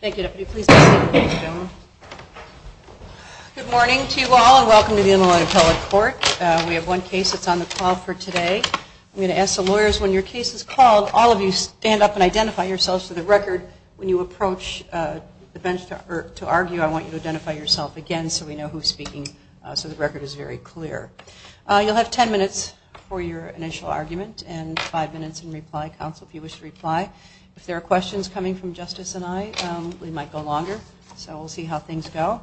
Good morning to you all and welcome to the Inland Appellate Court. We have one case that's on the call for today. I'm going to ask the lawyers, when your case is called, all of you stand up and identify yourselves for the record. When you approach the bench to argue, I want you to identify yourself again so we know who's speaking so the record is very clear. You'll have ten minutes for your initial argument and five minutes in reply, counsel, if you wish to reply. If there are questions coming from Justice and I, we'll be happy to answer them. We might go longer, so we'll see how things go.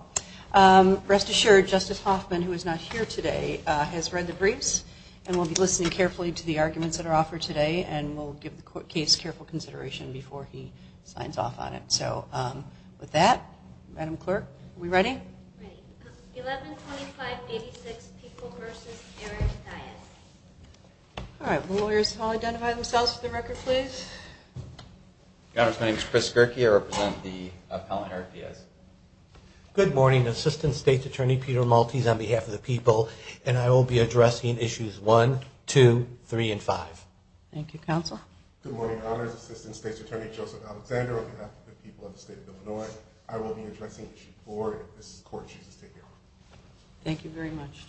Rest assured, Justice Hoffman, who is not here today, has read the briefs and will be listening carefully to the arguments that are offered today and will give the case careful consideration before he signs off on it. So with that, Madam Clerk, are we ready? 112586, People v. Aaron Diaz. All right, will the lawyers all identify themselves for the record, please? Your Honors, my name is Chris Gerke. I represent the appellant Eric Diaz. Good morning, Assistant State's Attorney Peter Maltese on behalf of the People, and I will be addressing issues 1, 2, 3, and 5. Thank you, counsel. Good morning, Your Honors. Assistant State's Attorney Joseph Alexander on behalf of the People of the State of Illinois. I will be addressing issue 4 if this Court chooses to hear on it. Thank you very much,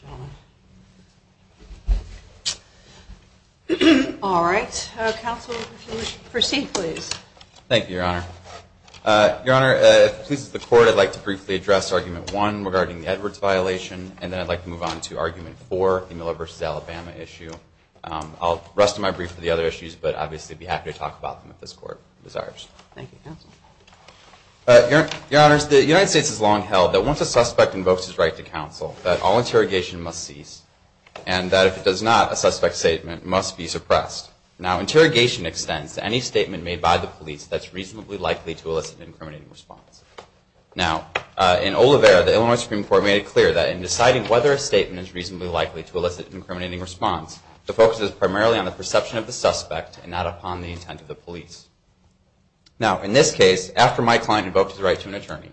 gentlemen. All right, counsel, if you would proceed, please. Thank you, Your Honor. Your Honor, if it pleases the Court, I'd like to briefly address argument 1 regarding the Edwards violation, and then I'd like to move on to argument 4, the Miller v. Alabama issue. I'll rest my brief for the other issues, but obviously, I'd be happy to talk about them if this Court desires. Thank you, counsel. Your Honors, the United States has long held that once a suspect invokes his right to counsel, that all interrogation must cease, and that if it does not, a suspect's statement must be suppressed. Now, interrogation extends to any statement made by the police that's reasonably likely to elicit an incriminating response. Now, in Olivera, the Illinois Supreme Court made it clear that in deciding whether a statement is reasonably likely to elicit an incriminating response, the focus is primarily on the perception of the suspect and not upon the intent of the police. Now, in this case, after my client invoked his right to an attorney,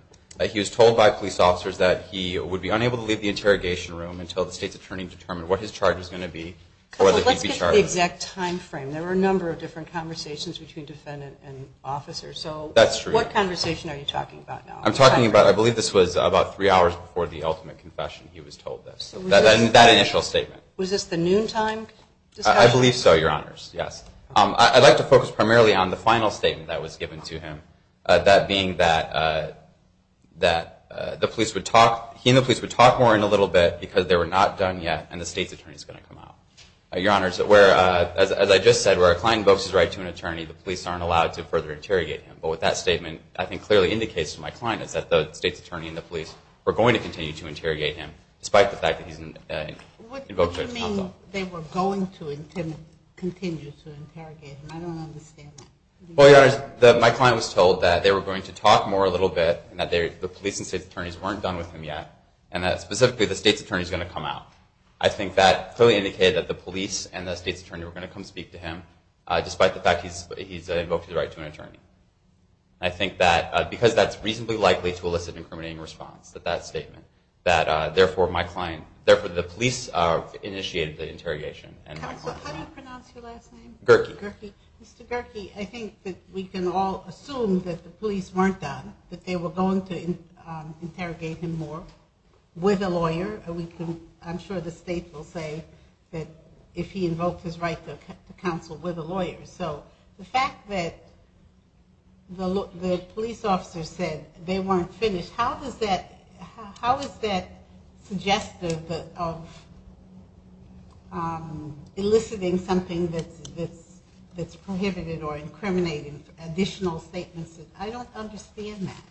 he was told by police officers that he would be unable to leave the interrogation room until the State's Attorney determined what his charge was going to be. Let's get to the exact time frame. There were a number of different conversations between defendant and officer, so what conversation are you talking about now? I'm talking about, I believe this was about three hours before the ultimate confession he was told this, that initial statement. Was this the noontime discussion? I believe so, Your Honors, yes. I'd like to focus primarily on the final statement that was given to him, that being that the police would talk, he and the police would talk more in a little bit because they were not done yet and the State's Attorney is going to come out. Your Honors, as I just said, where a client invokes his right to an attorney, the police aren't allowed to further interrogate him. But what that statement, I think, clearly indicates to my client is that the State's Attorney and the police were going to continue to interrogate him, despite the fact that he's invoked his right to counsel. What do you mean they were going to continue to interrogate him? I don't understand that. Well, Your Honors, my client was told that they were going to talk more a little bit, that the police and State's Attorneys weren't done with him yet, and that specifically the State's Attorney is going to come out. I think that clearly indicated that the police and the State's Attorney were going to come speak to him, despite the fact that he's invoked his right to an attorney. I think that, because that's reasonably likely to elicit an incriminating response, that that statement, that therefore my client, therefore the police initiated the interrogation. Counsel, how do you pronounce your last name? Gerkey. Mr. Gerkey, I think that we can all assume that the police weren't done, that they were going to interrogate him more with a lawyer. I'm sure the State will say that if he invoked his right to counsel with a lawyer. So the fact that the police officer said they weren't finished, how is that suggestive of eliciting something that's prohibited or incriminating additional statements? I don't understand that.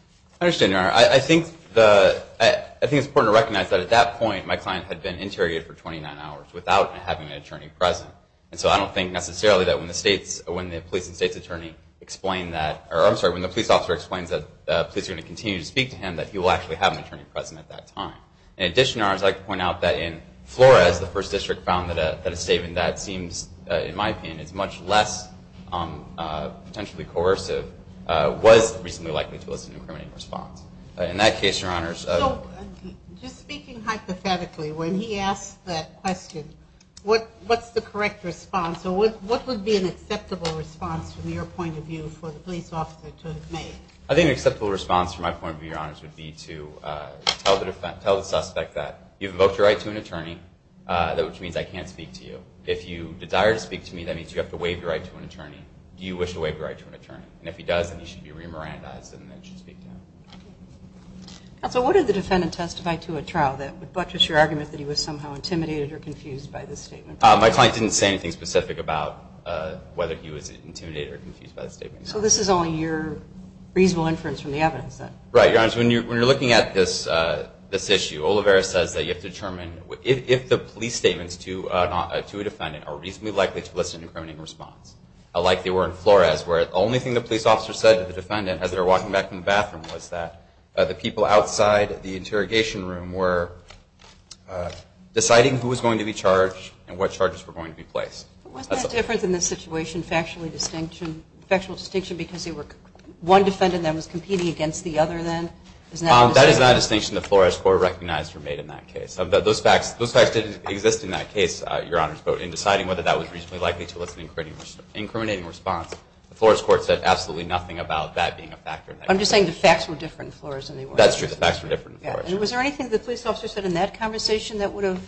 I understand, Your Honor. I think it's important to recognize that at that point, my client had been interrogated for 29 hours without having an attorney present. And so I don't think necessarily that when the State's, when the police and State's Attorney explain that, or I'm sorry, when the police officer explains that the police are going to continue to speak to him, that he will actually have an attorney present at that time. In addition, Your Honors, I'd like to point out that in Flores, the First District found that a statement that seems, in my opinion, is much less potentially coercive was reasonably likely to elicit an incriminating response. In that case, Your Honors. So just speaking hypothetically, when he asked that question, what's the correct response? So what would be an acceptable response from your point of view for the police officer to have made? I think an acceptable response from my point of view, Your Honors, would be to tell the suspect that you've invoked your right to an attorney, which means I can't speak to you. If you desire to speak to me, that means you have to waive your right to an attorney. Do you wish to waive your right to an attorney? Counsel, what if the defendant testified to a trial that would buttress your argument that he was somehow intimidated or confused by this statement? My client didn't say anything specific about whether he was intimidated or confused by the statement. So this is only your reasonable inference from the evidence, then? Right, Your Honors. When you're looking at this issue, Olivares says that you have to determine if the police statements to a defendant are reasonably likely to elicit an incriminating response, like they were in Flores, where the only thing the police officer said to the defendant as they were walking back from the bathroom was that the people outside the interrogation room were deciding who was going to be charged and what charges were going to be placed. Wasn't that different in this situation, factual distinction, because one defendant then was competing against the other then? That is not a distinction the Flores Court recognized were made in that case. Those facts didn't exist in that case, Your Honors, but in deciding whether that was reasonably likely to elicit an incriminating response, the Flores Court said absolutely nothing about that being a factor. I'm just saying the facts were different in Flores. Was there anything the police officer said in that conversation that would have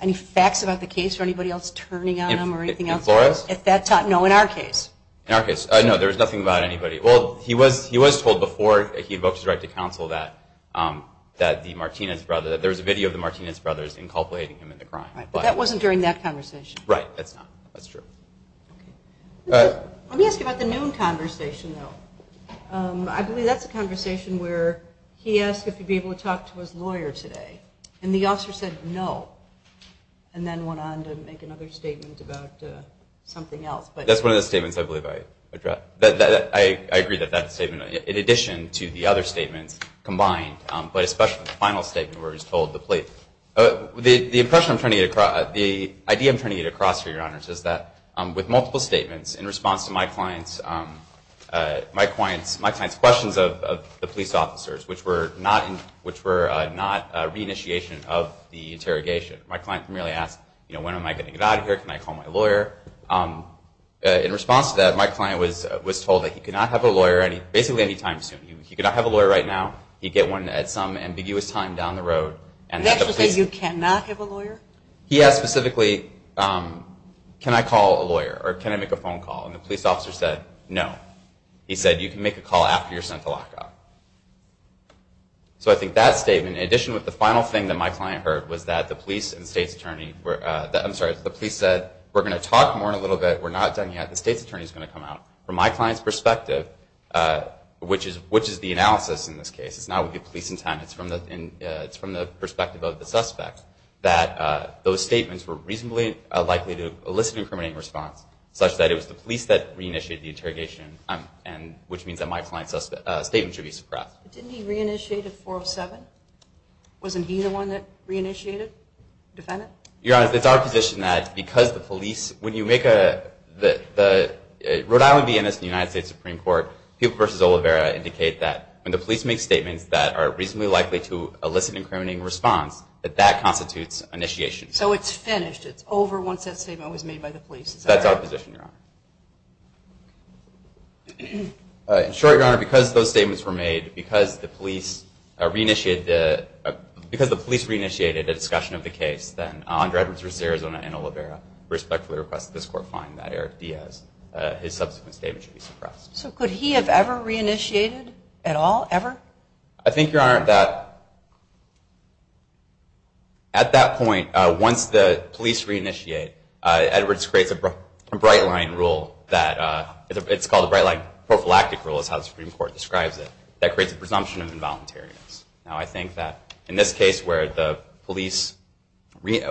any facts about the case or anybody else turning on him or anything else? In Flores? No, in our case. There was nothing about anybody. Well, he was told before he invoked his right to counsel that there was a video of the Martinez brothers inculpating him in the crime. But that wasn't during that conversation? Right, that's not. Let me ask you about the noon conversation, though. I believe that's a conversation where he asked if he would be able to talk to his lawyer today, and the officer said no, and then went on to make another statement about something else. That's one of the statements I believe I addressed. I agree that that statement, in addition to the other statements combined, but especially the final statement where he's told the police. The impression I'm trying to get across, the idea I'm trying to get across here, Your Honors, is that with multiple statements, in response to my client's questions of the police officers, which were not re-initiation of the interrogation, my client primarily asked, you know, when am I getting it out of here? Can I call my lawyer? In response to that, my client was told that he could not have a lawyer basically any time soon. He could not have a lawyer right now. He'd get one at some ambiguous time down the road. He asked specifically, can I call a lawyer, or can I make a phone call, and the police officer said no. He said you can make a call after you're sent to lockup. So I think that statement, in addition to the final thing that my client heard, was that the police and the state's attorney, I'm sorry, the police said we're going to talk more in a little bit. We're not done yet. The state's attorney is going to come out. From my client's perspective, which is the analysis in this case, it's not with the police in town, it's from the perspective of the suspect, that those statements were reasonably likely to elicit an incriminating response, such that it was the police that re-initiated the interrogation, which means that my client's statement should be suppressed. Didn't he re-initiate at 4 of 7? Wasn't he the one that re-initiated? The defendant? Your Honor, it's our position that because the police, when you make a, the Rhode Island V.N.S. and the United States Supreme Court, Peoples v. Oliveira indicate that when the police make statements that are reasonably likely to elicit an incriminating response, that that constitutes initiation. So it's finished, it's over once that statement was made by the police? That's our position, Your Honor. In short, Your Honor, because those statements were made, because the police re-initiated a discussion of the case, then Andre Edwards v. Arizona and Oliveira respectfully request that this court find that Eric Diaz, his subsequent statement should be suppressed. So could he have ever re-initiated at all, ever? I think, Your Honor, that at that point, once the police re-initiate, Edwards creates a bright-line rule that, it's called a bright-line prophylactic rule is how the Supreme Court describes it, that creates a presumption of involuntariness. Now I think that in this case where the police made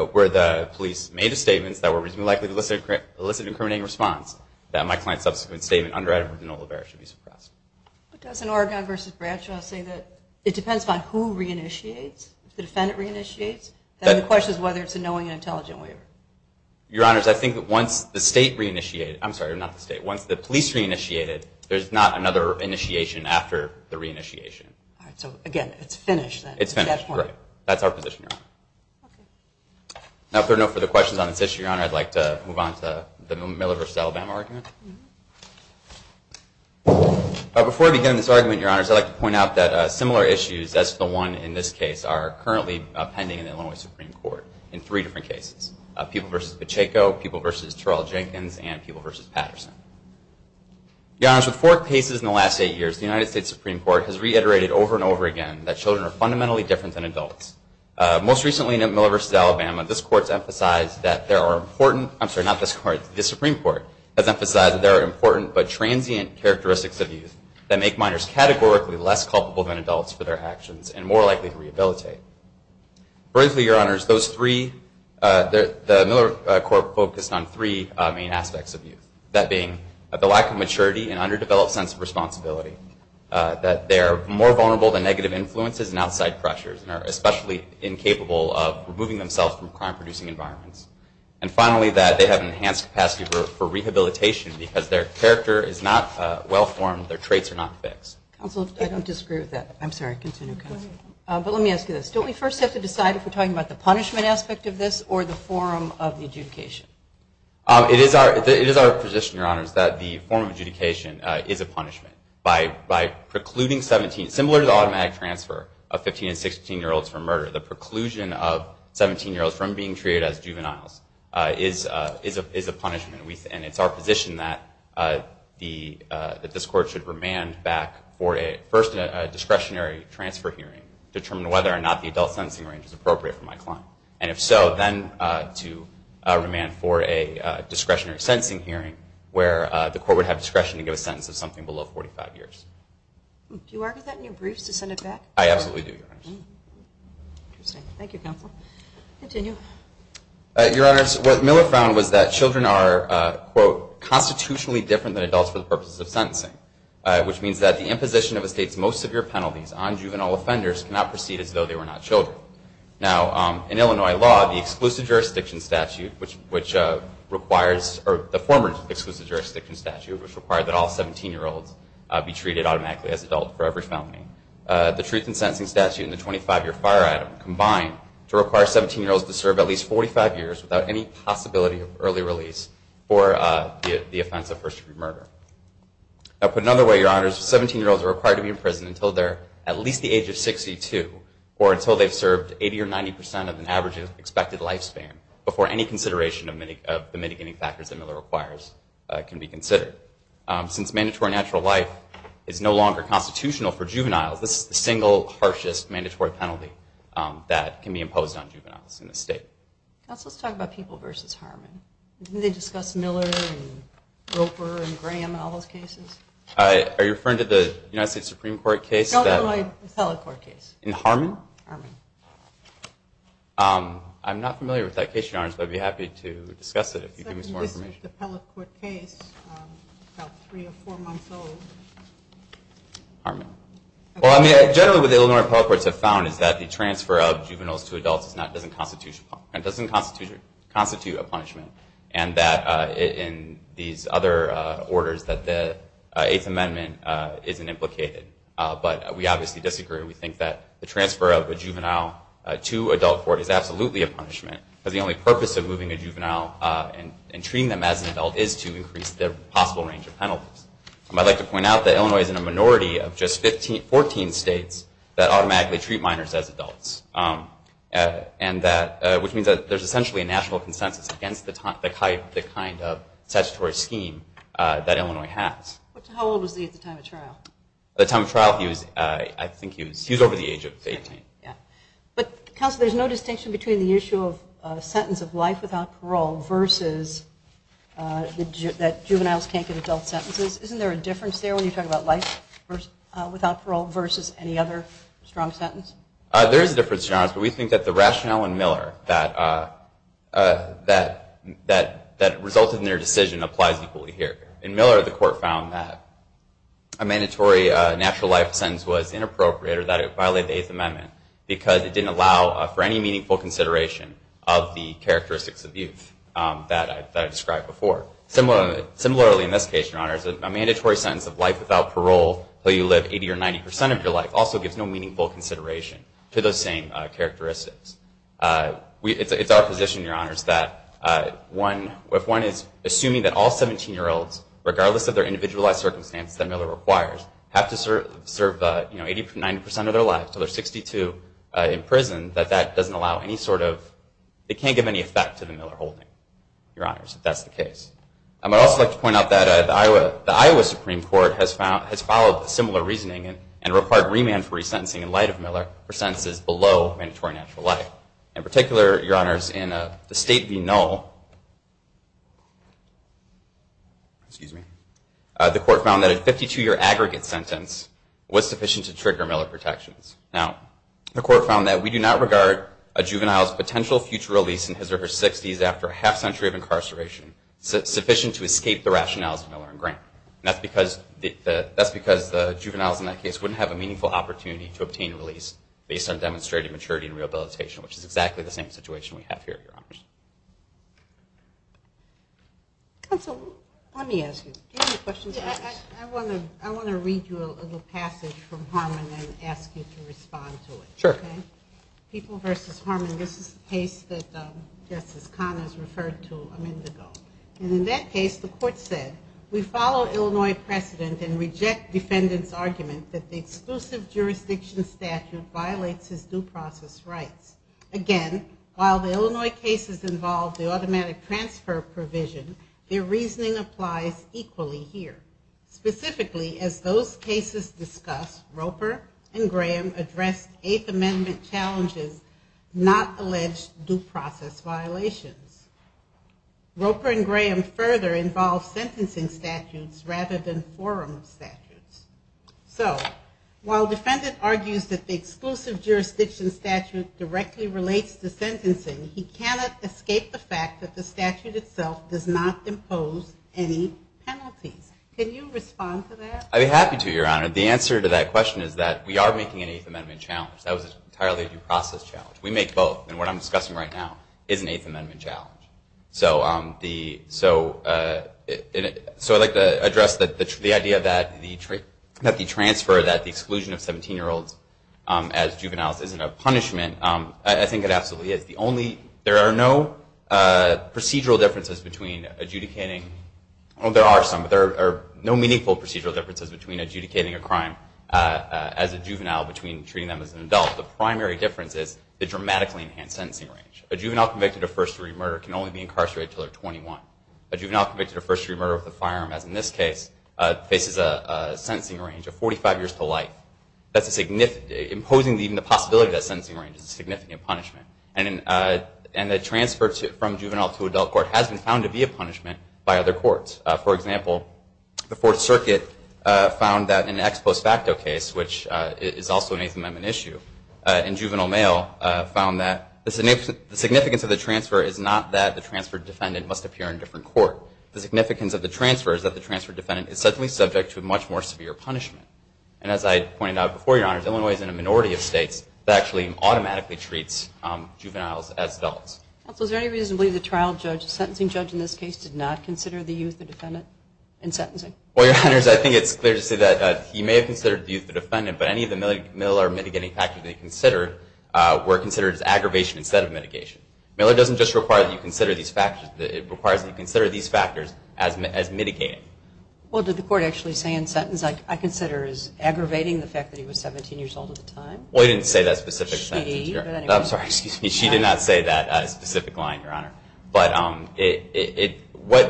statements that were reasonably likely to elicit an incriminating response, that my client's subsequent statement under Oregon v. Bradshaw say that it depends on who re-initiates, if the defendant re-initiates, then the question is whether it's a knowing and intelligent waiver. Your Honor, I think that once the state re-initiated, I'm sorry, not the state, once the police re-initiated, there's not another initiation after the re-initiation. So again, it's finished. It's finished, right. That's our position, Your Honor. Now if there are no further questions on this issue, Your Honor, I'd like to move on to the Miller v. Alabama argument. Before I begin this argument, Your Honors, I'd like to point out that similar issues as the one in this case are currently pending in the Illinois Supreme Court in three different cases. People v. Pacheco, People v. Terrell Jenkins, and People v. Patterson. Your Honors, with four cases in the last eight years, the United States Supreme Court has reiterated over and over again that children are fundamentally different than adults. Most recently in Miller v. Alabama, this Court's emphasized that there are important, I'm sorry, not this Court, the Supreme Court has emphasized that there are important but transient characteristics of youth that make minors categorically less culpable than adults for their actions and more likely to rehabilitate. Briefly, Your Honors, those three, the Miller Court focused on three main aspects of youth. That being, the lack of maturity and underdeveloped sense of responsibility. That they are more vulnerable to negative influences and outside pressures and are especially incapable of removing themselves from crime-producing environments. And finally, that they have an enhanced capacity for rehabilitation because their character is not well-formed, their traits are not fixed. Counsel, I don't disagree with that. I'm sorry, continue, Counsel. But let me ask you this. Don't we first have to decide if we're talking about the punishment aspect of this or the form of the adjudication? It is our position, Your Honors, that the form of adjudication is a punishment. By precluding 17, similar to the automatic transfer of 15 and 16-year-olds for murder, the preclusion of 17-year-olds from being treated as juveniles is a punishment. And it's our position that this Court should remand back for a first discretionary transfer hearing to determine whether or not the adult sentencing range is appropriate for my client. And if so, then to remand for a discretionary sentencing hearing where the Court would have discretion to give a sentence of something below 45 years. Do you argue that in your briefs to send it back? I absolutely do, Your Honors. Interesting. Thank you, Counsel. Continue. Your Honors, what Miller found was that children are, quote, constitutionally different than adults for the purposes of sentencing, which means that the imposition of a state's most severe penalties on juvenile offenders cannot proceed as though they were not children. Now, in Illinois law, the former exclusive jurisdiction statute, which required that all 17-year-olds be treated automatically as adults for every felony, the truth in sentencing statute and the 25-year fire item combine to require 17-year-olds to serve at least 45 years without any possibility of early release for the offense of first-degree murder. Now, put another way, Your Honors, 17-year-olds are required to be in prison until they're at least the age of 62 or until they've served 80 or 90 percent of an average expected lifespan before any consideration of the mitigating factors that Miller requires can be considered. Since mandatory natural life is no longer constitutional for juveniles, this is the single harshest mandatory penalty that can be imposed on juveniles in the state. Counsel, let's talk about people versus Harmon. Didn't they discuss Miller and Roper and Graham in all those cases? Are you referring to the United States Supreme Court case? The Illinois appellate court case. In Harmon? Harmon. I'm not familiar with that case, Your Honors, but I'd be happy to discuss it if you could give me some more information. Well, I mean, generally what the Illinois appellate courts have found is that the transfer of juveniles to adults doesn't constitute a punishment and that in these other orders that the Eighth Amendment isn't implicated. But we obviously disagree. We think that the transfer of a juvenile to adult court is absolutely a punishment because the only purpose of moving a juvenile and treating them as an adult is to increase their possible range of penalties. I'd like to point out that Illinois is in a minority of just 14 states that automatically treat minors as adults, which means that there's essentially a national consensus against the kind of statutory scheme that Illinois has. How old was he at the time of trial? At the time of trial, I think he was over the age of 18. But, Counsel, there's no distinction between the issue of a sentence of life without parole versus that juveniles can't get adult care. Strong sentence? There is a difference, Your Honors, but we think that the rationale in Miller that resulted in their decision applies equally here. In Miller, the court found that a mandatory natural life sentence was inappropriate or that it violated the Eighth Amendment because it didn't allow for any meaningful consideration of the characteristics of youth that I described before. Similarly, in this case, Your Honors, a mandatory sentence of life without parole until you live 80 or 90 percent of your life also gives no meaningful consideration to those same characteristics. It's our position, Your Honors, that if one is assuming that all 17-year-olds, regardless of their individualized circumstances that Miller requires, have to serve 80 to 90 percent of their lives until they're 62 in prison, that that doesn't allow any sort of, it can't give any effect to the Miller holding, Your Honors, if that's the case. I would also like to point out that the Iowa Supreme Court has followed similar reasoning and required remand for each jury sentencing in light of Miller for sentences below mandatory natural life. In particular, Your Honors, in the State v. Null, the court found that a 52-year aggregate sentence was sufficient to trigger Miller protections. Now, the court found that we do not regard a juvenile's potential future release in his or her 60s after a half century of incarceration sufficient to escape the community to obtain release based on demonstrated maturity and rehabilitation, which is exactly the same situation we have here, Your Honors. Counsel, let me ask you. I want to read you a little passage from Harmon and ask you to respond to it. Sure. People v. Harmon, this is the case that Justice Connors referred to a minute ago. And in that case, the court said, we follow Illinois precedent and reject defendant's argument that the exclusive jurisdiction statute violates his due process rights. Again, while the Illinois cases involve the automatic transfer provision, their reasoning applies equally here. Specifically, as those cases discuss, Roper and Graham address Eighth Amendment challenges, not alleged due process violations. Roper and Graham further involve sentencing statutes rather than forum statutes. So while defendant argues that the exclusive jurisdiction statute directly relates to sentencing, he cannot escape the fact that the statute itself does not impose any penalties. Can you respond to that? I'd be happy to, Your Honor. The answer to that question is that we are making an Eighth Amendment challenge. That was an entirely due process challenge. We make both. And what I'm discussing right now is an Eighth Amendment challenge. I'm not saying that the transfer, that the exclusion of 17-year-olds as juveniles isn't a punishment. I think it absolutely is. There are no procedural differences between adjudicating, well, there are some, but there are no meaningful procedural differences between adjudicating a crime as a juvenile between treating them as an adult. The primary difference is the dramatically enhanced sentencing range. A juvenile convicted of first-degree murder can only be incarcerated until they're 21. A juvenile convicted of a firearm, as in this case, faces a sentencing range of 45 years to life. Imposing even the possibility of that sentencing range is a significant punishment. And the transfer from juvenile to adult court has been found to be a punishment by other courts. For example, the Fourth Circuit found that in an ex post facto case, which is also an Eighth Amendment issue, a juvenile male found that the significance of the transfer is not that the transferred defendant must appear in a different court. The significance of the transfer is that the transferred defendant is subject to a much more severe punishment. And as I pointed out before, Your Honors, Illinois is in a minority of states that actually automatically treats juveniles as adults. Is there any reason to believe the trial judge, the sentencing judge in this case, did not consider the youth the defendant in sentencing? Well, Your Honors, I think it's clear to say that he may have considered the youth the defendant, but any of the middle or mitigating factors that he considered were considered as aggravation instead of mitigation. Miller doesn't just require that you consider these factors, it requires that you consider these factors as mitigating. Well, did the court actually say in sentence, I consider as aggravating the fact that he was 17 years old at the time? Well, he didn't say that specific sentence, Your Honor. I'm sorry, excuse me. She did not say that specific line, Your Honor. But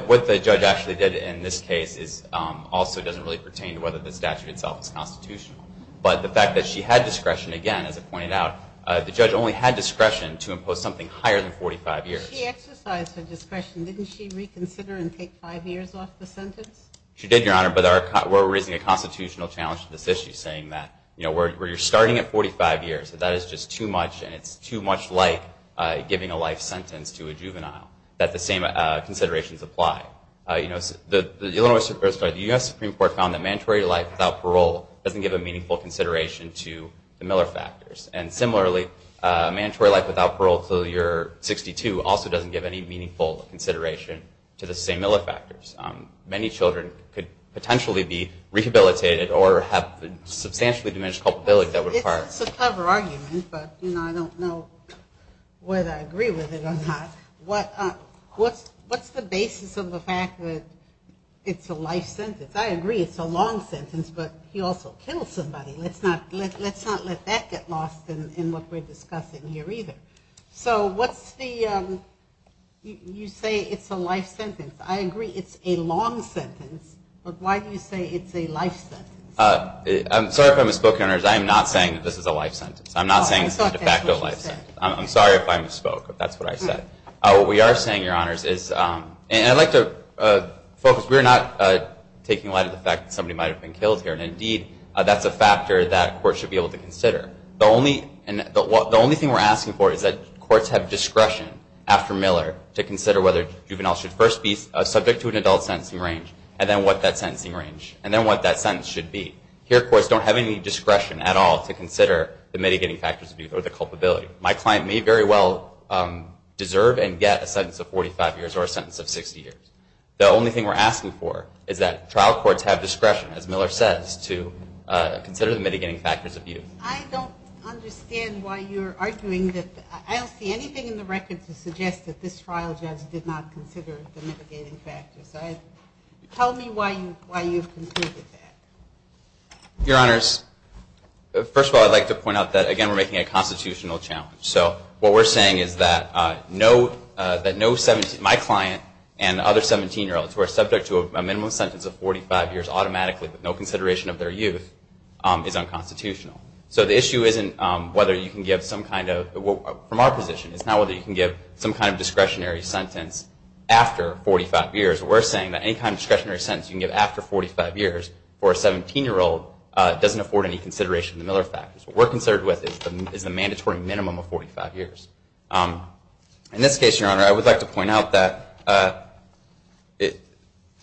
what the judge actually did in this case also doesn't really pertain to whether the statute itself is constitutional. But the fact that she had discretion, again, as I pointed out, the judge only had discretion to impose something higher than 45 years. She exercised her discretion. Didn't she reconsider and take five years off the sentence? She did, Your Honor, but we're raising a constitutional challenge to this issue, saying that where you're starting at 45 years, that is just too much, and it's too much like giving a life sentence to a juvenile, that the same considerations apply. The U.S. Supreme Court found that mandatory life without parole doesn't give a meaningful consideration to the Miller factors. And similarly, mandatory life without parole until you're 62 also doesn't give any meaningful consideration to the same Miller factors. Many children could potentially be rehabilitated or have substantially diminished culpability. It's a clever argument, but I don't know whether I agree with it or not. What's the basis of the fact that it's a life sentence? I agree it's a long sentence, but he also killed somebody. Let's not let that get lost in what we're discussing here, either. So what's the, you say it's a life sentence. I agree it's a long sentence, but why do you say it's a life sentence? I'm sorry if I misspoke, Your Honor. I'm not saying this is a life sentence. I'm not saying it's a de facto life sentence. I'm sorry if I misspoke, if that's what I said. What we are saying, Your Honors, is, and I'd like to focus, we're not taking a lot of the fact that somebody might have been killed here. And indeed, that's a factor that courts should be able to consider. The only thing we're asking for is that courts have discretion after Miller to consider whether juveniles should first be subject to an adult sentencing range, and then what that sentencing range, and then what that sentence should be. Here, courts don't have any discretion at all to consider the mitigating factors of youth or the culpability. My client may very well deserve and get a sentence of 45 years or a sentence of 60 years. The only thing we're asking for is that trial courts have discretion, as Miller says, to consider the mitigating factors of youth. I don't understand why you're arguing that, I don't see anything in the record to suggest that this trial judge did not consider the mitigating factors. Tell me why you've concluded that. Your Honors, first of all, I'd like to point out that, again, we're making a constitutional challenge. So what we're saying is that my client and other 17-year-olds who are subject to a minimum sentence of 45 years automatically with no consideration of their youth is unconstitutional. So the issue isn't whether you can give some kind of, from our position, it's not whether you can give some kind of discretionary sentence after 45 years. We're saying that any kind of discretionary sentence you can give after 45 years for a 17-year-old doesn't afford any consideration of the Miller factors. What we're concerned with is the mandatory minimum of 45 years. In this case, Your Honor, I would like to point out that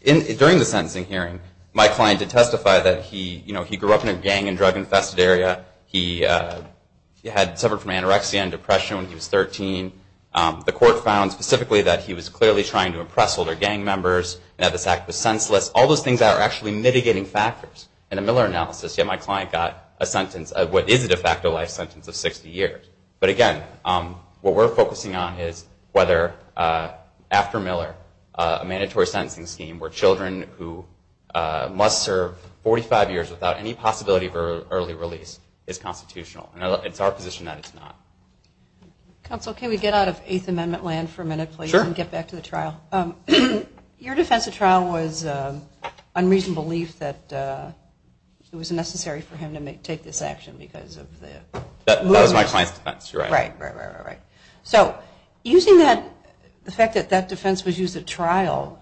during the sentencing hearing, my client did testify that he grew up in a gang and drug-infested area, he had suffered from anorexia and depression when he was 13. The court found specifically that he was clearly trying to impress older gang members and that this act was senseless. All those things are actually mitigating factors in a Miller analysis, yet my client got a sentence of what is a de facto life sentence of 60 years. But again, what we're focusing on is whether, after Miller, a mandatory sentencing scheme where children who must serve 45 years without any possibility of early release is considered unconstitutional. It's our position that it's not. Counsel, can we get out of Eighth Amendment land for a minute, please, and get back to the trial? Your defense of trial was unreasonably that it was necessary for him to take this action. That was my client's defense. So using the fact that that defense was used at trial,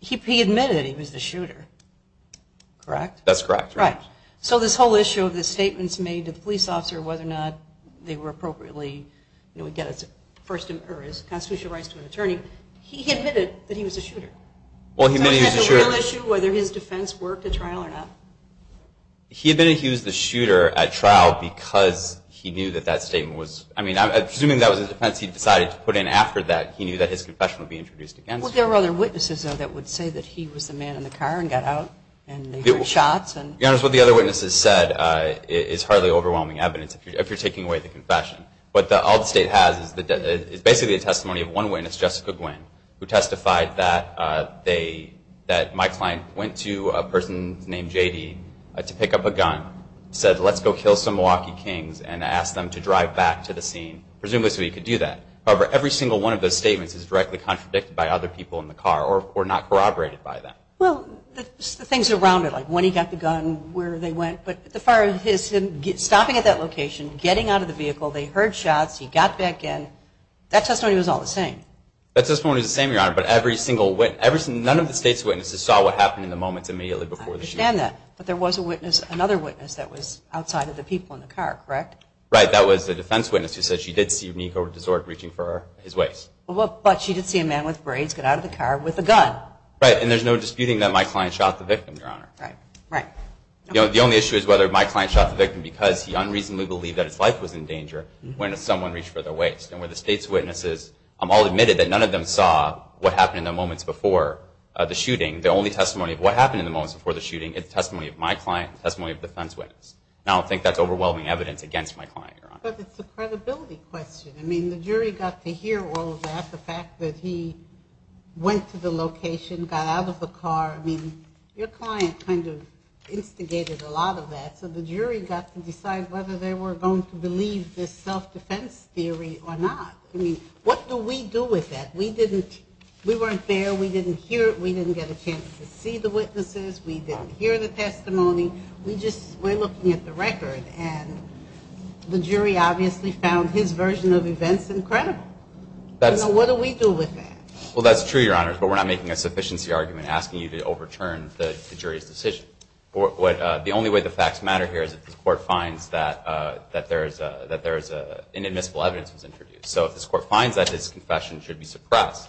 he admitted that he was the shooter, correct? That's correct. So this whole issue of the statements made to the police officer whether or not they were appropriately, again, it's constitutional rights to an attorney. So he had a real issue whether his defense worked at trial or not? He admitted he was the shooter at trial because he knew that that statement was, I mean, I'm assuming that was a defense he decided to put in after that. He knew that his confession would be introduced against him. Well, there were other witnesses, though, that would say that he was the man in the car and got out and they heard shots. Your Honor, what the other witnesses said is hardly overwhelming evidence if you're taking away the confession. But all the state has is basically a testimony of one witness, Jessica Gwin, who testified that my client went to a person named J.D. to pick up a gun, said, let's go kill some Milwaukee kings, and asked them to drive back to the scene, presumably so he could do that. However, every single one of those statements is directly contradicted by other people in the car or not corroborated by them. Well, the things around it, like when he got the gun, where they went. But as far as him stopping at that location, getting out of the vehicle, they heard shots, he got back in, that testimony was all the same. That testimony was the same, Your Honor, but every single witness, none of the state's witnesses saw what happened in the moments immediately before the shooting. I understand that, but there was another witness that was outside of the people in the car, correct? Right, that was the defense witness who said she did see Nico Desort reaching for his waist. But she did see a man with braids get out of the car with a gun. Right, and there's no disputing that my client shot the victim, Your Honor. Right, right. The only issue is whether my client shot the victim because he unreasonably believed that his life was in danger when someone reached for the waist. And where the state's witnesses all admitted that none of them saw what happened in the moments before the shooting. The only testimony of what happened in the moments before the shooting is testimony of my client and testimony of the defense witness. And I don't think that's overwhelming evidence against my client, Your Honor. But it's a credibility question. I mean, the jury got to hear all of that, the fact that he went to the location, got out of the car. I mean, your client kind of instigated a lot of that. So the jury got to decide whether they were going to believe this self-defense theory or not. I mean, what do we do with that? We weren't there. We didn't hear it. We didn't get a chance to see the witnesses. We didn't hear the testimony. We just weren't looking at the record. And the jury obviously found his version of events incredible. So what do we do with that? Well, that's true, Your Honor, but we're not making a sufficiency argument asking you to overturn the jury's decision. The only way the facts matter here is if the court finds that there is an admissible evidence that was introduced. So if this court finds that his confession should be suppressed,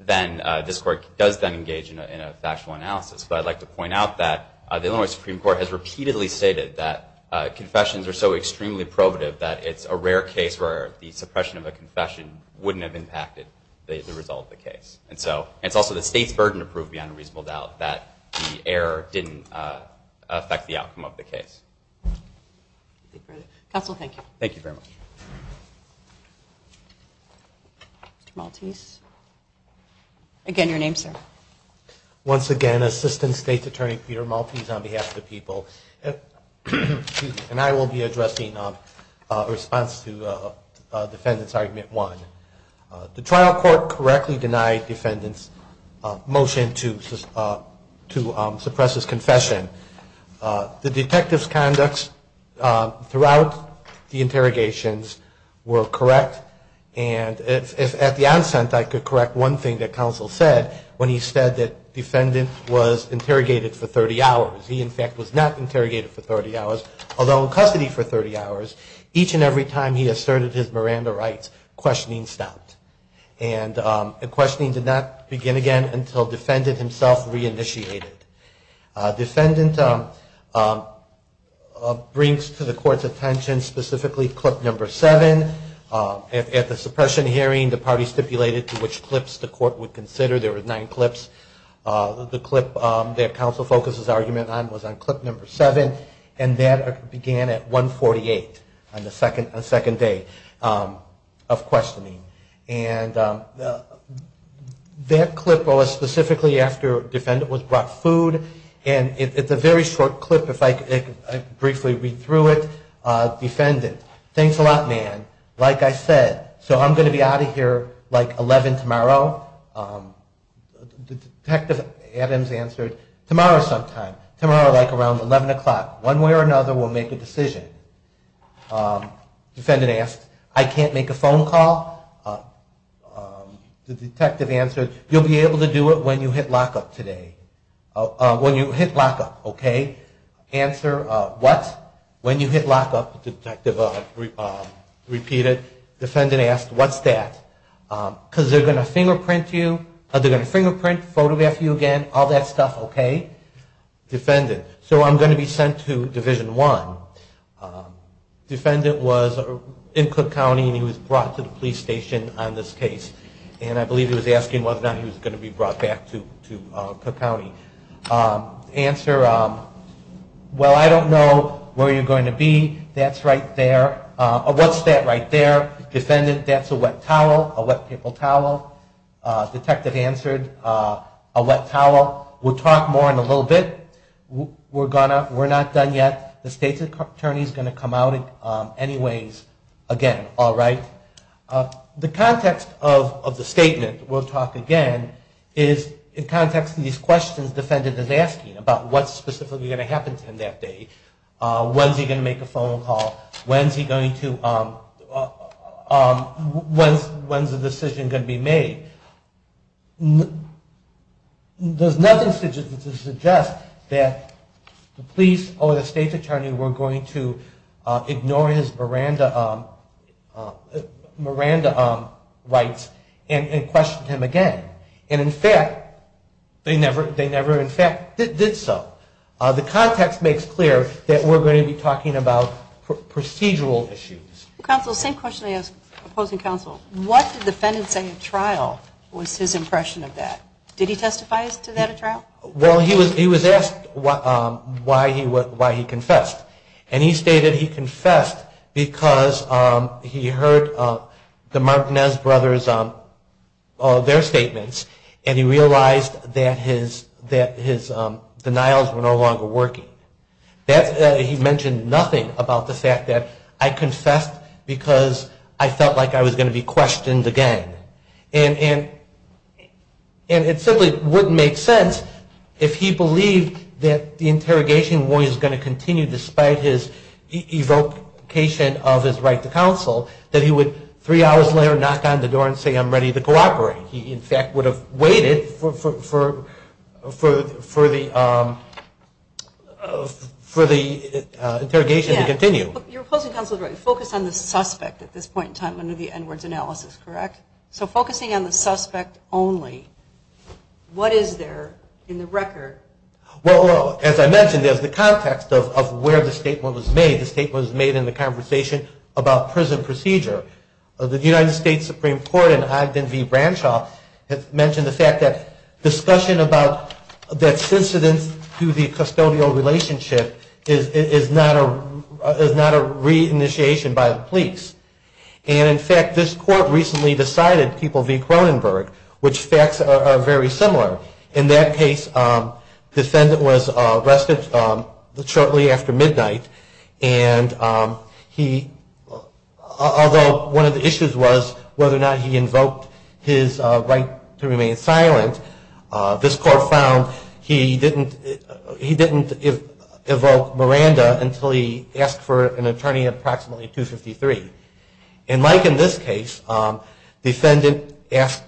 then this court does then engage in a factual analysis. But I'd like to point out that the Illinois Supreme Court has repeatedly stated that confessions are so extremely probative that it's a rare case where the suppression of a confession wouldn't have impacted the result of the case. And so it's also the state's burden to prove beyond a reasonable doubt that the error didn't affect the outcome of the case. Counsel, thank you. Thank you very much. Mr. Maltese. Again, your name, sir. Once again, Assistant State's Attorney Peter Maltese on behalf of the people. And I will be addressing a response to Defendant's Argument 1. The trial court correctly denied Defendant's motion to suppress his confession. The detective's conducts throughout the interrogations were correct. And at the onset, I could correct one thing that Counsel said when he said that Defendant was interrogated for 30 hours. He, in fact, was not interrogated for 30 hours, although in custody for 30 hours, each and every time he asserted his Miranda rights, questioning stopped. And questioning did not begin again until Defendant himself reinitiated. Defendant brings to the court's attention specifically clip number 7. At the suppression hearing, the party stipulated to which clips the court would consider. There were nine clips. The clip that Counsel focuses argument on was on clip number 7. And that began at 1.48 on the second day of questioning. And that clip was specifically after Defendant was brought food. And it's a very short clip. If I could briefly read through it. Defendant, thanks a lot, man. Like I said, so I'm going to be out of here like 11 tomorrow. Detective Adams answered, tomorrow sometime. Tomorrow like around 11 o'clock. One way or another we'll make a decision. Defendant asked, I can't make a phone call. The detective answered, you'll be able to do it when you hit lockup today. When you hit lockup, okay. Answer, what? When you hit lockup, the detective repeated. Defendant asked, what's that? Because they're going to fingerprint you. They're going to fingerprint, photograph you again, all that stuff, okay. Defendant, so I'm going to be sent to Division 1. Defendant was in Cook County and he was brought to the police station on this case. And I believe he was asking whether or not he was going to be brought back to Cook County. Answer, well I don't know where you're going to be. That's right there. What's that right there? Defendant, that's a wet towel, a wet paper towel. Detective answered, a wet towel. We'll talk more in a little bit. We're not done yet. The state's attorney is going to come out anyways again. The context of the statement, we'll talk again, is in context of these questions the defendant is asking about what's specifically going to happen to him that day. When's he going to make a phone call? When's the decision going to be made? There's nothing to suggest that the police or the state's attorney were going to ignore his Miranda rights and question him again. And in fact, they never in fact did so. The context makes clear that we're going to be talking about procedural issues. Counsel, same question I ask opposing counsel. What did the defendant say at trial was his impression of that? Did he testify to that at trial? Well, he was asked why he confessed. And he stated he confessed because he heard the Martinez brothers, their statements, and he realized that his denials were no longer working. He mentioned nothing about the fact that I confessed because I felt like I was going to be questioned again. And it simply wouldn't make sense if he believed that the interrogation was going to continue despite his evocation of his right to counsel that he would three hours later knock on the door and say I'm ready to cooperate. He in fact would have waited for the interrogation to continue. You're opposing counsel's right to focus on the suspect at this point in time under the N-words analysis, correct? So focusing on the suspect only, what is there in the record? Well, as I mentioned, there's the context of where the statement was made. The statement was made in the conversation about prison procedure. The United States Supreme Court in Ogden v. Branshaw mentioned the fact that discussion about that's incident to the custodial relationship is not a re-initiation by the police. And in fact, this court recently decided, people v. Cronenberg, which facts are very similar. In that case, the defendant was arrested shortly after midnight and although one of the issues was whether or not he invoked his right to remain silent, this court found he didn't evoke Miranda until he asked for an attorney at approximately 253. And like in this case, the defendant asked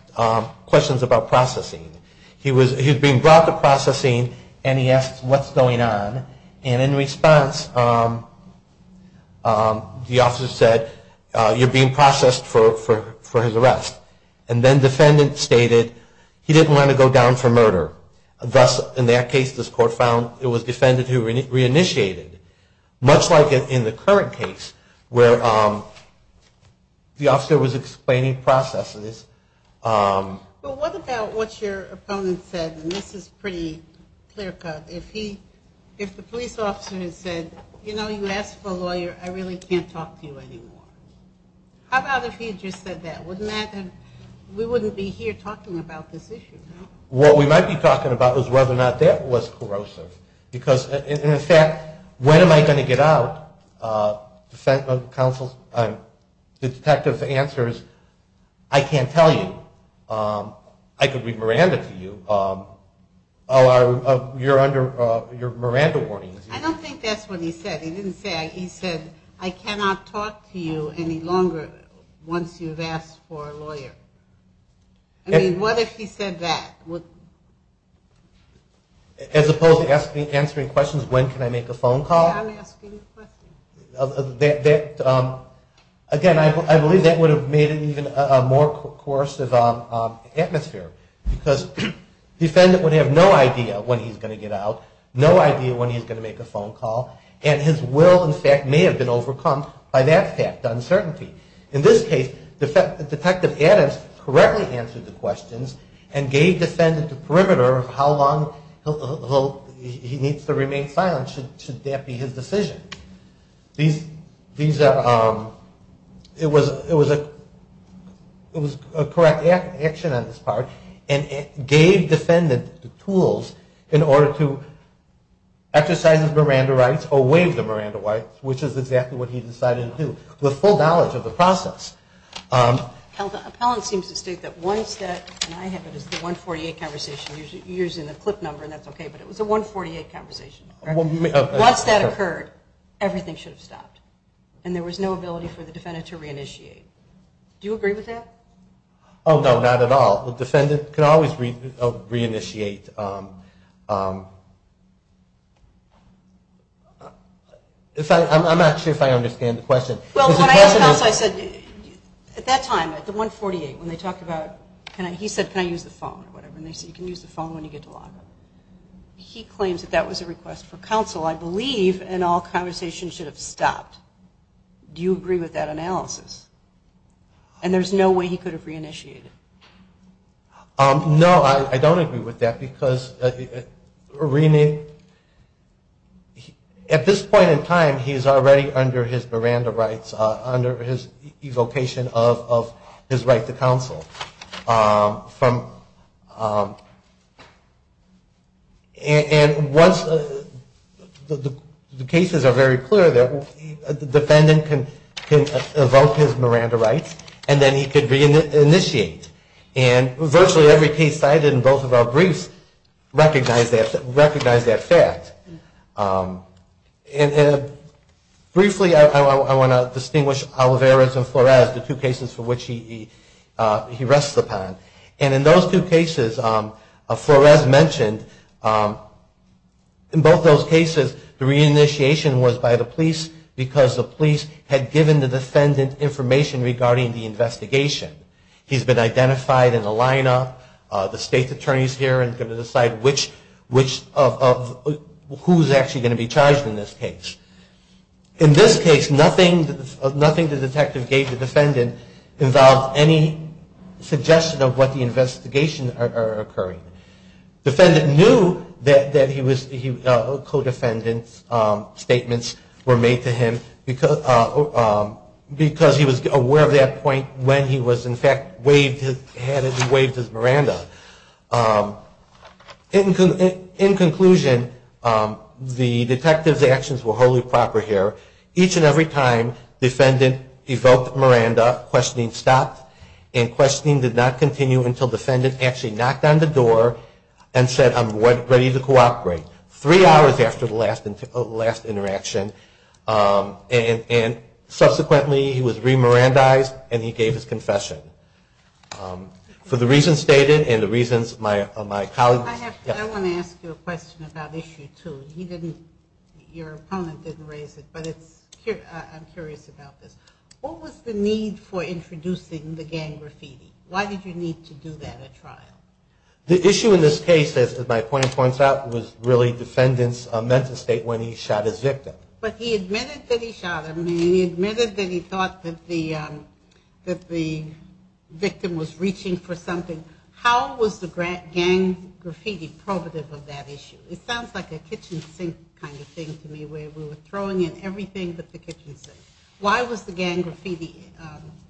questions about processing. He was being brought to processing and he asked what's going on. And in response, the officer said, you're being processed for his arrest. And then defendant stated he didn't want to go down for murder. Thus, in that case, this court found it was defendant who re-initiated. Much like in the current case where the officer was explaining processes. But what about what your opponent said? And this is pretty clear cut. If the police officer had said, you know, you asked for a lawyer, I really can't talk to you anymore. How about if he had just said that? We wouldn't be here talking about this issue. What we might be talking about is whether or not that was corrosive. Because in fact, when am I going to get out? The detective's answer is, I can't tell you. I could be Miranda to you. Oh, you're under Miranda warnings. I don't think that's what he said. He said, I cannot talk to you any longer once you've asked for a lawyer. I mean, what if he said that? As opposed to answering questions, when can I make a phone call? Again, I believe that would have made it even more corrosive atmosphere. Because defendant would have no idea when he's going to get out, no idea when he's going to make a phone call. And his will, in fact, may have been overcome by that fact, uncertainty. In this case, Detective Adams correctly answered the questions and gave defendant the perimeter of how long he needs to remain silent, should that be his decision. It was a correct action on this part and gave defendant the tools in order to exercise his Miranda rights or waive the Miranda rights, which is exactly what he decided to do with full knowledge of the process. The appellant seems to state that once that occurred, everything should have stopped. And there was no ability for the defendant to reinitiate. Do you agree with that? Oh, no, not at all. The defendant could always reinitiate. I'm not sure if I understand the question. Well, when I asked counsel, I said, at that time, at the 148, when they talked about, he said, can I use the phone or whatever, and they said, you can use the phone when you get to law. He claims that that was a request for counsel, I believe, and all conversation should have stopped. Do you agree with that analysis? And there's no way he could have reinitiated? No, I don't agree with that, because at this point in time, he's already under his Miranda rights, under his evocation of his right to counsel. And once the cases are very clear, the defendant can evoke his Miranda rights, and then he can reinitiate. And virtually every case cited in both of our briefs recognized that fact. Briefly, I want to distinguish Olivares and Flores, the two cases for which he rests upon. And in those two cases, Flores mentioned, in both those cases, the reinitiation was by the police, because the police had given the defendant information regarding the investigation. He's been identified in a lineup, the state attorney is here and is going to decide who is actually going to be charged in this case. In this case, nothing the detective gave the defendant involved any suggestion of what the investigations are occurring. Defendant knew that co-defendant's statements were made to him, because he was aware of that point when he was charged. He was, in fact, had him waived his Miranda. In conclusion, the detective's actions were wholly proper here. Each and every time, defendant evoked Miranda, questioning stopped, and questioning did not continue until defendant actually knocked on the door and said, I'm ready to cooperate. Three hours after the last interaction, and subsequently he was re-Mirandized and he gave his confession. For the reasons stated and the reasons my colleague... I want to ask you a question about issue two. Your opponent didn't raise it, but I'm curious about this. What was the need for introducing the gang graffiti? Why did you need to do that at trial? The issue in this case, as my opponent points out, was really defendant's mental state when he shot his victim. But he admitted that he shot him and he admitted that he thought that the victim was reaching for something. How was the gang graffiti probative of that issue? It sounds like a kitchen sink kind of thing to me, where we were throwing in everything but the kitchen sink. Why was the gang graffiti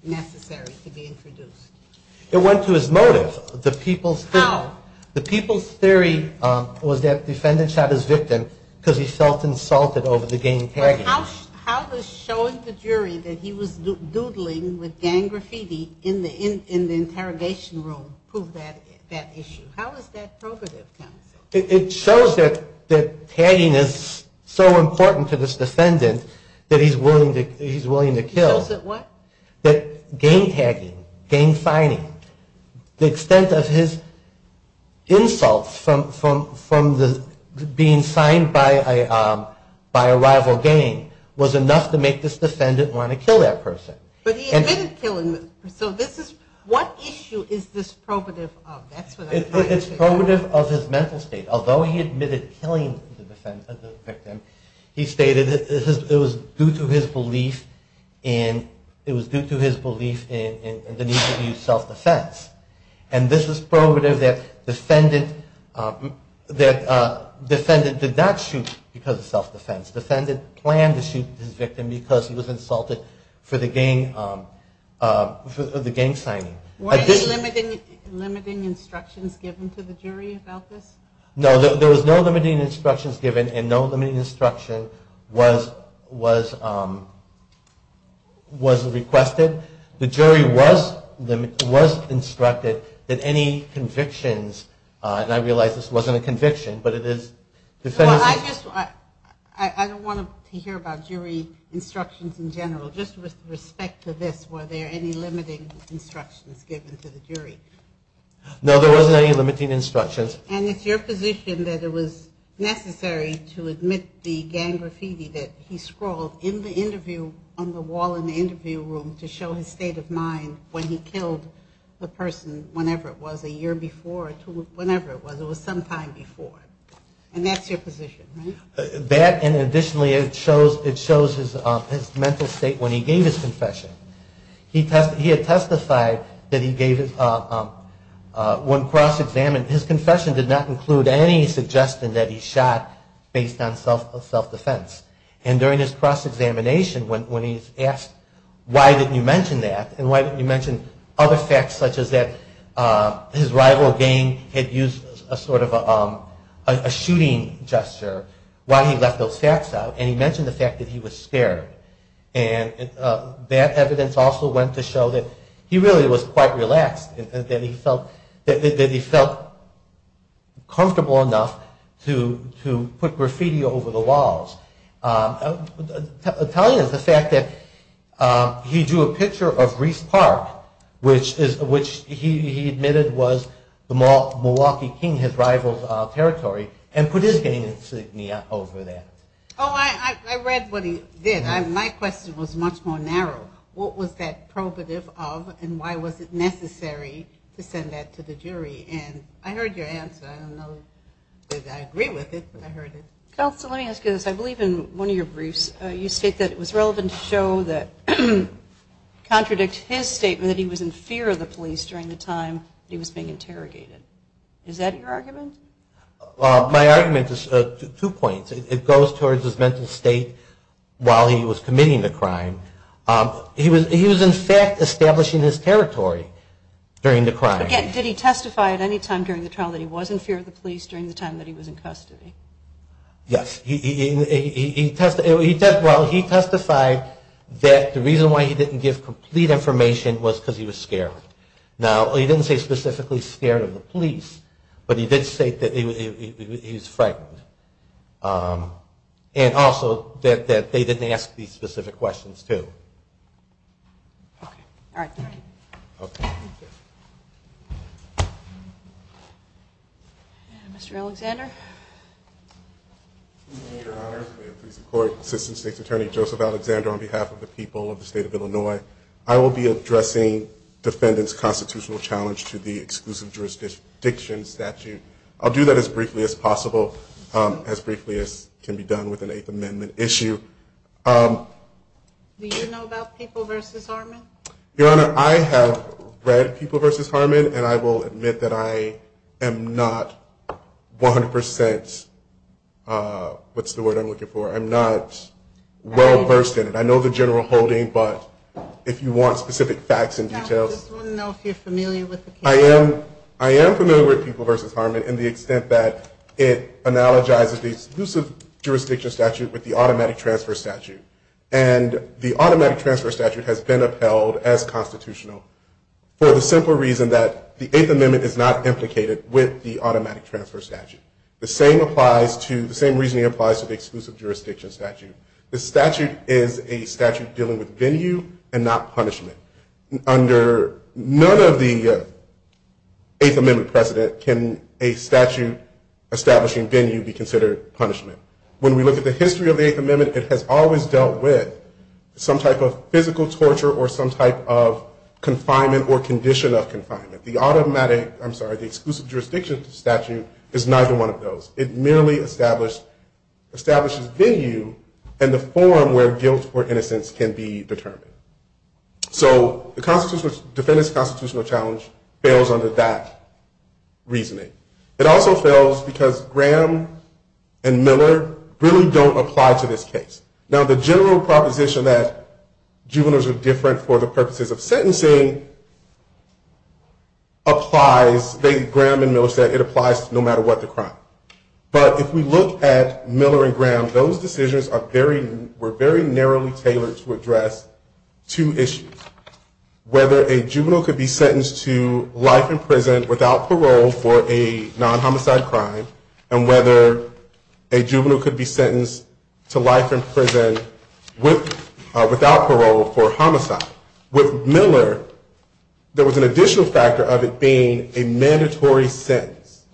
necessary to be introduced? It went to his motive. The people's theory was that defendant shot his victim because he felt insulted over the gang tagging. How does showing the jury that he was doodling with gang graffiti in the interrogation room prove that issue? It shows that tagging is so important to this defendant that he's willing to kill. That gang tagging, gang signing, the extent of his insults from being signed by a rival gang, was enough to make this defendant want to kill that person. What issue is this probative of? It's probative of his mental state. Although he admitted killing the victim, he stated it was due to his belief in the need to use self-defense. This is probative that defendant did not shoot because of self-defense. Defendant planned to shoot his victim because he was insulted for the gang signing. Were there limiting instructions given to the jury about this? No, there were no limiting instructions given and no limiting instruction was requested. The jury was instructed that any convictions, and I realize this wasn't a conviction, but it is... I don't want to hear about jury instructions in general. Just with respect to this, were there any limiting instructions given to the jury? No, there wasn't any limiting instructions. And it's your position that it was necessary to admit the gang graffiti that he scrawled on the wall in the interview room to show his state of mind when he killed the person, whenever it was, a year before, whenever it was, it was sometime before. And that's your position, right? That and additionally it shows his mental state when he gave his confession. He had testified that he gave, when cross-examined, his confession did not include any suggestion that he shot based on self-defense. And during his cross-examination when he's asked why didn't you mention that and why didn't you mention other facts such as that his rival gang had used a sort of a shooting gesture while he left those facts out and he mentioned the fact that he was scared. And that evidence also went to show that he really was quite relaxed and that he felt comfortable enough to put graffiti over the walls. Telling us the fact that he drew a picture of Reece Park, which he admitted was the Milwaukee King, his rival's territory, and put his gang insignia over that. Oh, I read what he did. My question was much more narrow. What was that probative of and why was it necessary to send that to the jury? And I heard your answer. I don't know that I agree with it, but I heard it. Counsel, let me ask you this. I believe in one of your briefs you state that it was relevant to show that, contradict his statement that he was in fear of the police during the time that he was being interrogated. Is that your argument? My argument is two points. It goes towards his mental state while he was committing the crime. He was in fact establishing his territory during the crime. Again, did he testify at any time during the trial that he was in fear of the police during the time that he was in custody? Yes. Well, he testified that the reason why he didn't give complete information was because he was scared. Now, he didn't say specifically scared of the police, but he did say that he was in fear of the police. He did state that he was frightened. And also that they didn't ask these specific questions, too. Okay. All right. Thank you. Okay. Thank you. Mr. Alexander? Thank you, Your Honor. May it please the Court. Assistant State's Attorney Joseph Alexander on behalf of the people of the State of Illinois. I will be addressing defendant's constitutional challenge to the exclusive jurisdiction statute. I'll do that as briefly as possible, as briefly as can be done with an Eighth Amendment issue. Do you know about People v. Harmon? Your Honor, I have read People v. Harmon, and I will admit that I am not 100 percent. What's the word I'm looking for? I'm not well versed in it. I know the general holding, but I'm not 100 percent. I am familiar with People v. Harmon in the extent that it analogizes the exclusive jurisdiction statute with the automatic transfer statute. And the automatic transfer statute has been upheld as constitutional for the simple reason that the Eighth Amendment is not implicated with the automatic transfer statute. The same reason it applies to the exclusive jurisdiction statute. The statute is a statute dealing with venue and not a statute dealing with purpose. Under none of the Eighth Amendment precedent can a statute establishing venue be considered punishment. When we look at the history of the Eighth Amendment, it has always dealt with some type of physical torture or some type of confinement or condition of confinement. The exclusive jurisdiction statute is neither one of those. It merely establishes venue in the form where guilt or innocence can be determined. So the defendant's constitutional challenge fails under that reasoning. It also fails because Graham and Miller really don't apply to this case. Now the general proposition that juveniles are different for the purposes of sentencing applies. Graham and Miller said it applies no matter what the crime. But if we look at Miller and Graham, those decisions were very narrowly tailored to address two issues. Whether a juvenile could be sentenced to life in prison without parole for a non-homicide crime and whether a juvenile could be sentenced to life in prison without parole for homicide. With Miller, there was an additional factor of it being a mandatory sentence.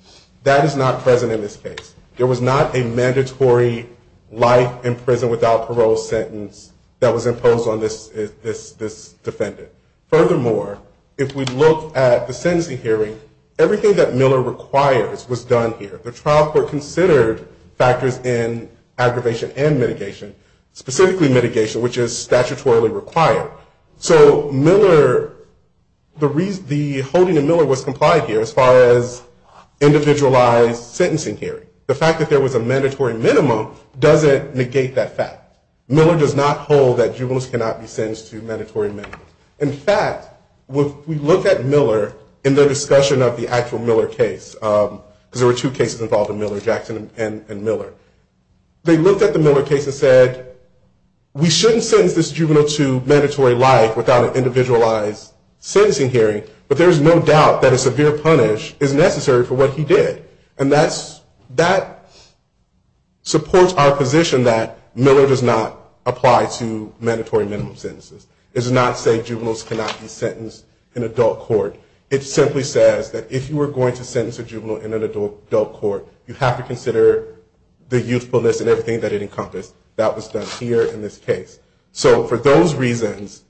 That is not present in the Eighth Amendment. There was not a mandatory life in prison without parole sentence that was imposed on this defendant. Furthermore, if we look at the sentencing hearing, everything that Miller requires was done here. The trial court considered factors in aggravation and mitigation, specifically mitigation, which is statutorily required. So the holding of Miller was complied here as far as individualized sentencing hearing. The fact that there was a mandatory minimum doesn't negate that fact. Miller does not hold that juveniles cannot be sentenced to mandatory minimums. In fact, if we look at Miller in their discussion of the actual Miller case, because there were two cases involving Miller, Jackson and Miller, they looked at the Miller case and said, we shouldn't sentence this juvenile to mandatory life in prison. We shouldn't sentence this juvenile to mandatory life without an individualized sentencing hearing, but there is no doubt that a severe punish is necessary for what he did. And that supports our position that Miller does not apply to mandatory minimum sentences. It does not say juveniles cannot be sentenced in adult court. It simply says that if you were going to sentence a juvenile in an adult court, you have to consider the youthfulness and everything that it encompassed that was done here in this case. So for those reasons,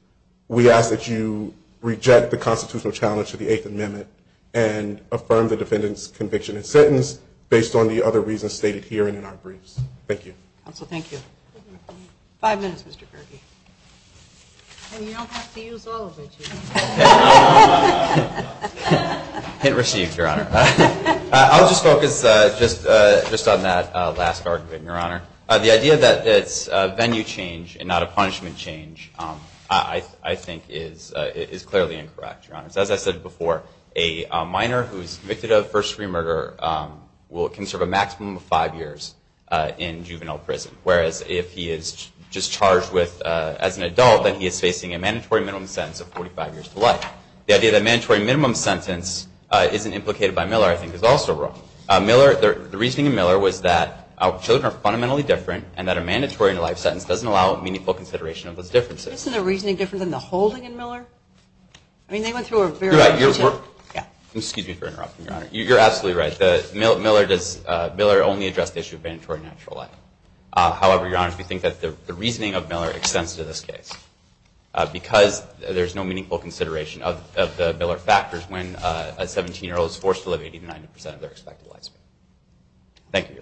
we ask that you reject the constitutional challenge to the Eighth Amendment and affirm the defendant's conviction and sentence based on the other reasons stated here and in our briefs. Thank you. I'll just focus just on that last argument, Your Honor. The idea that it's a venue change and not a punishment change, I think, is clearly incorrect, Your Honor. As I said before, a minor who is convicted of first-degree murder will conserve a maximum of five years in juvenile prison, whereas if he is just charged as an adult, then he is facing a mandatory minimum sentence of 45 years to life. The idea that a mandatory minimum sentence isn't implicated by Miller, I think, is also wrong. The reasoning in Miller was that our children are fundamentally different and that a mandatory life sentence doesn't allow meaningful consideration of those differences. Isn't the reasoning different than the holding in Miller? You're absolutely right. Miller only addressed the issue of mandatory natural life. However, Your Honor, we think that the reasoning of Miller extends to this case because there is no meaningful consideration of the Miller factors when a 17-year-old is forced to live 80 to 90 percent of their expected life. Thank you, Your Honor.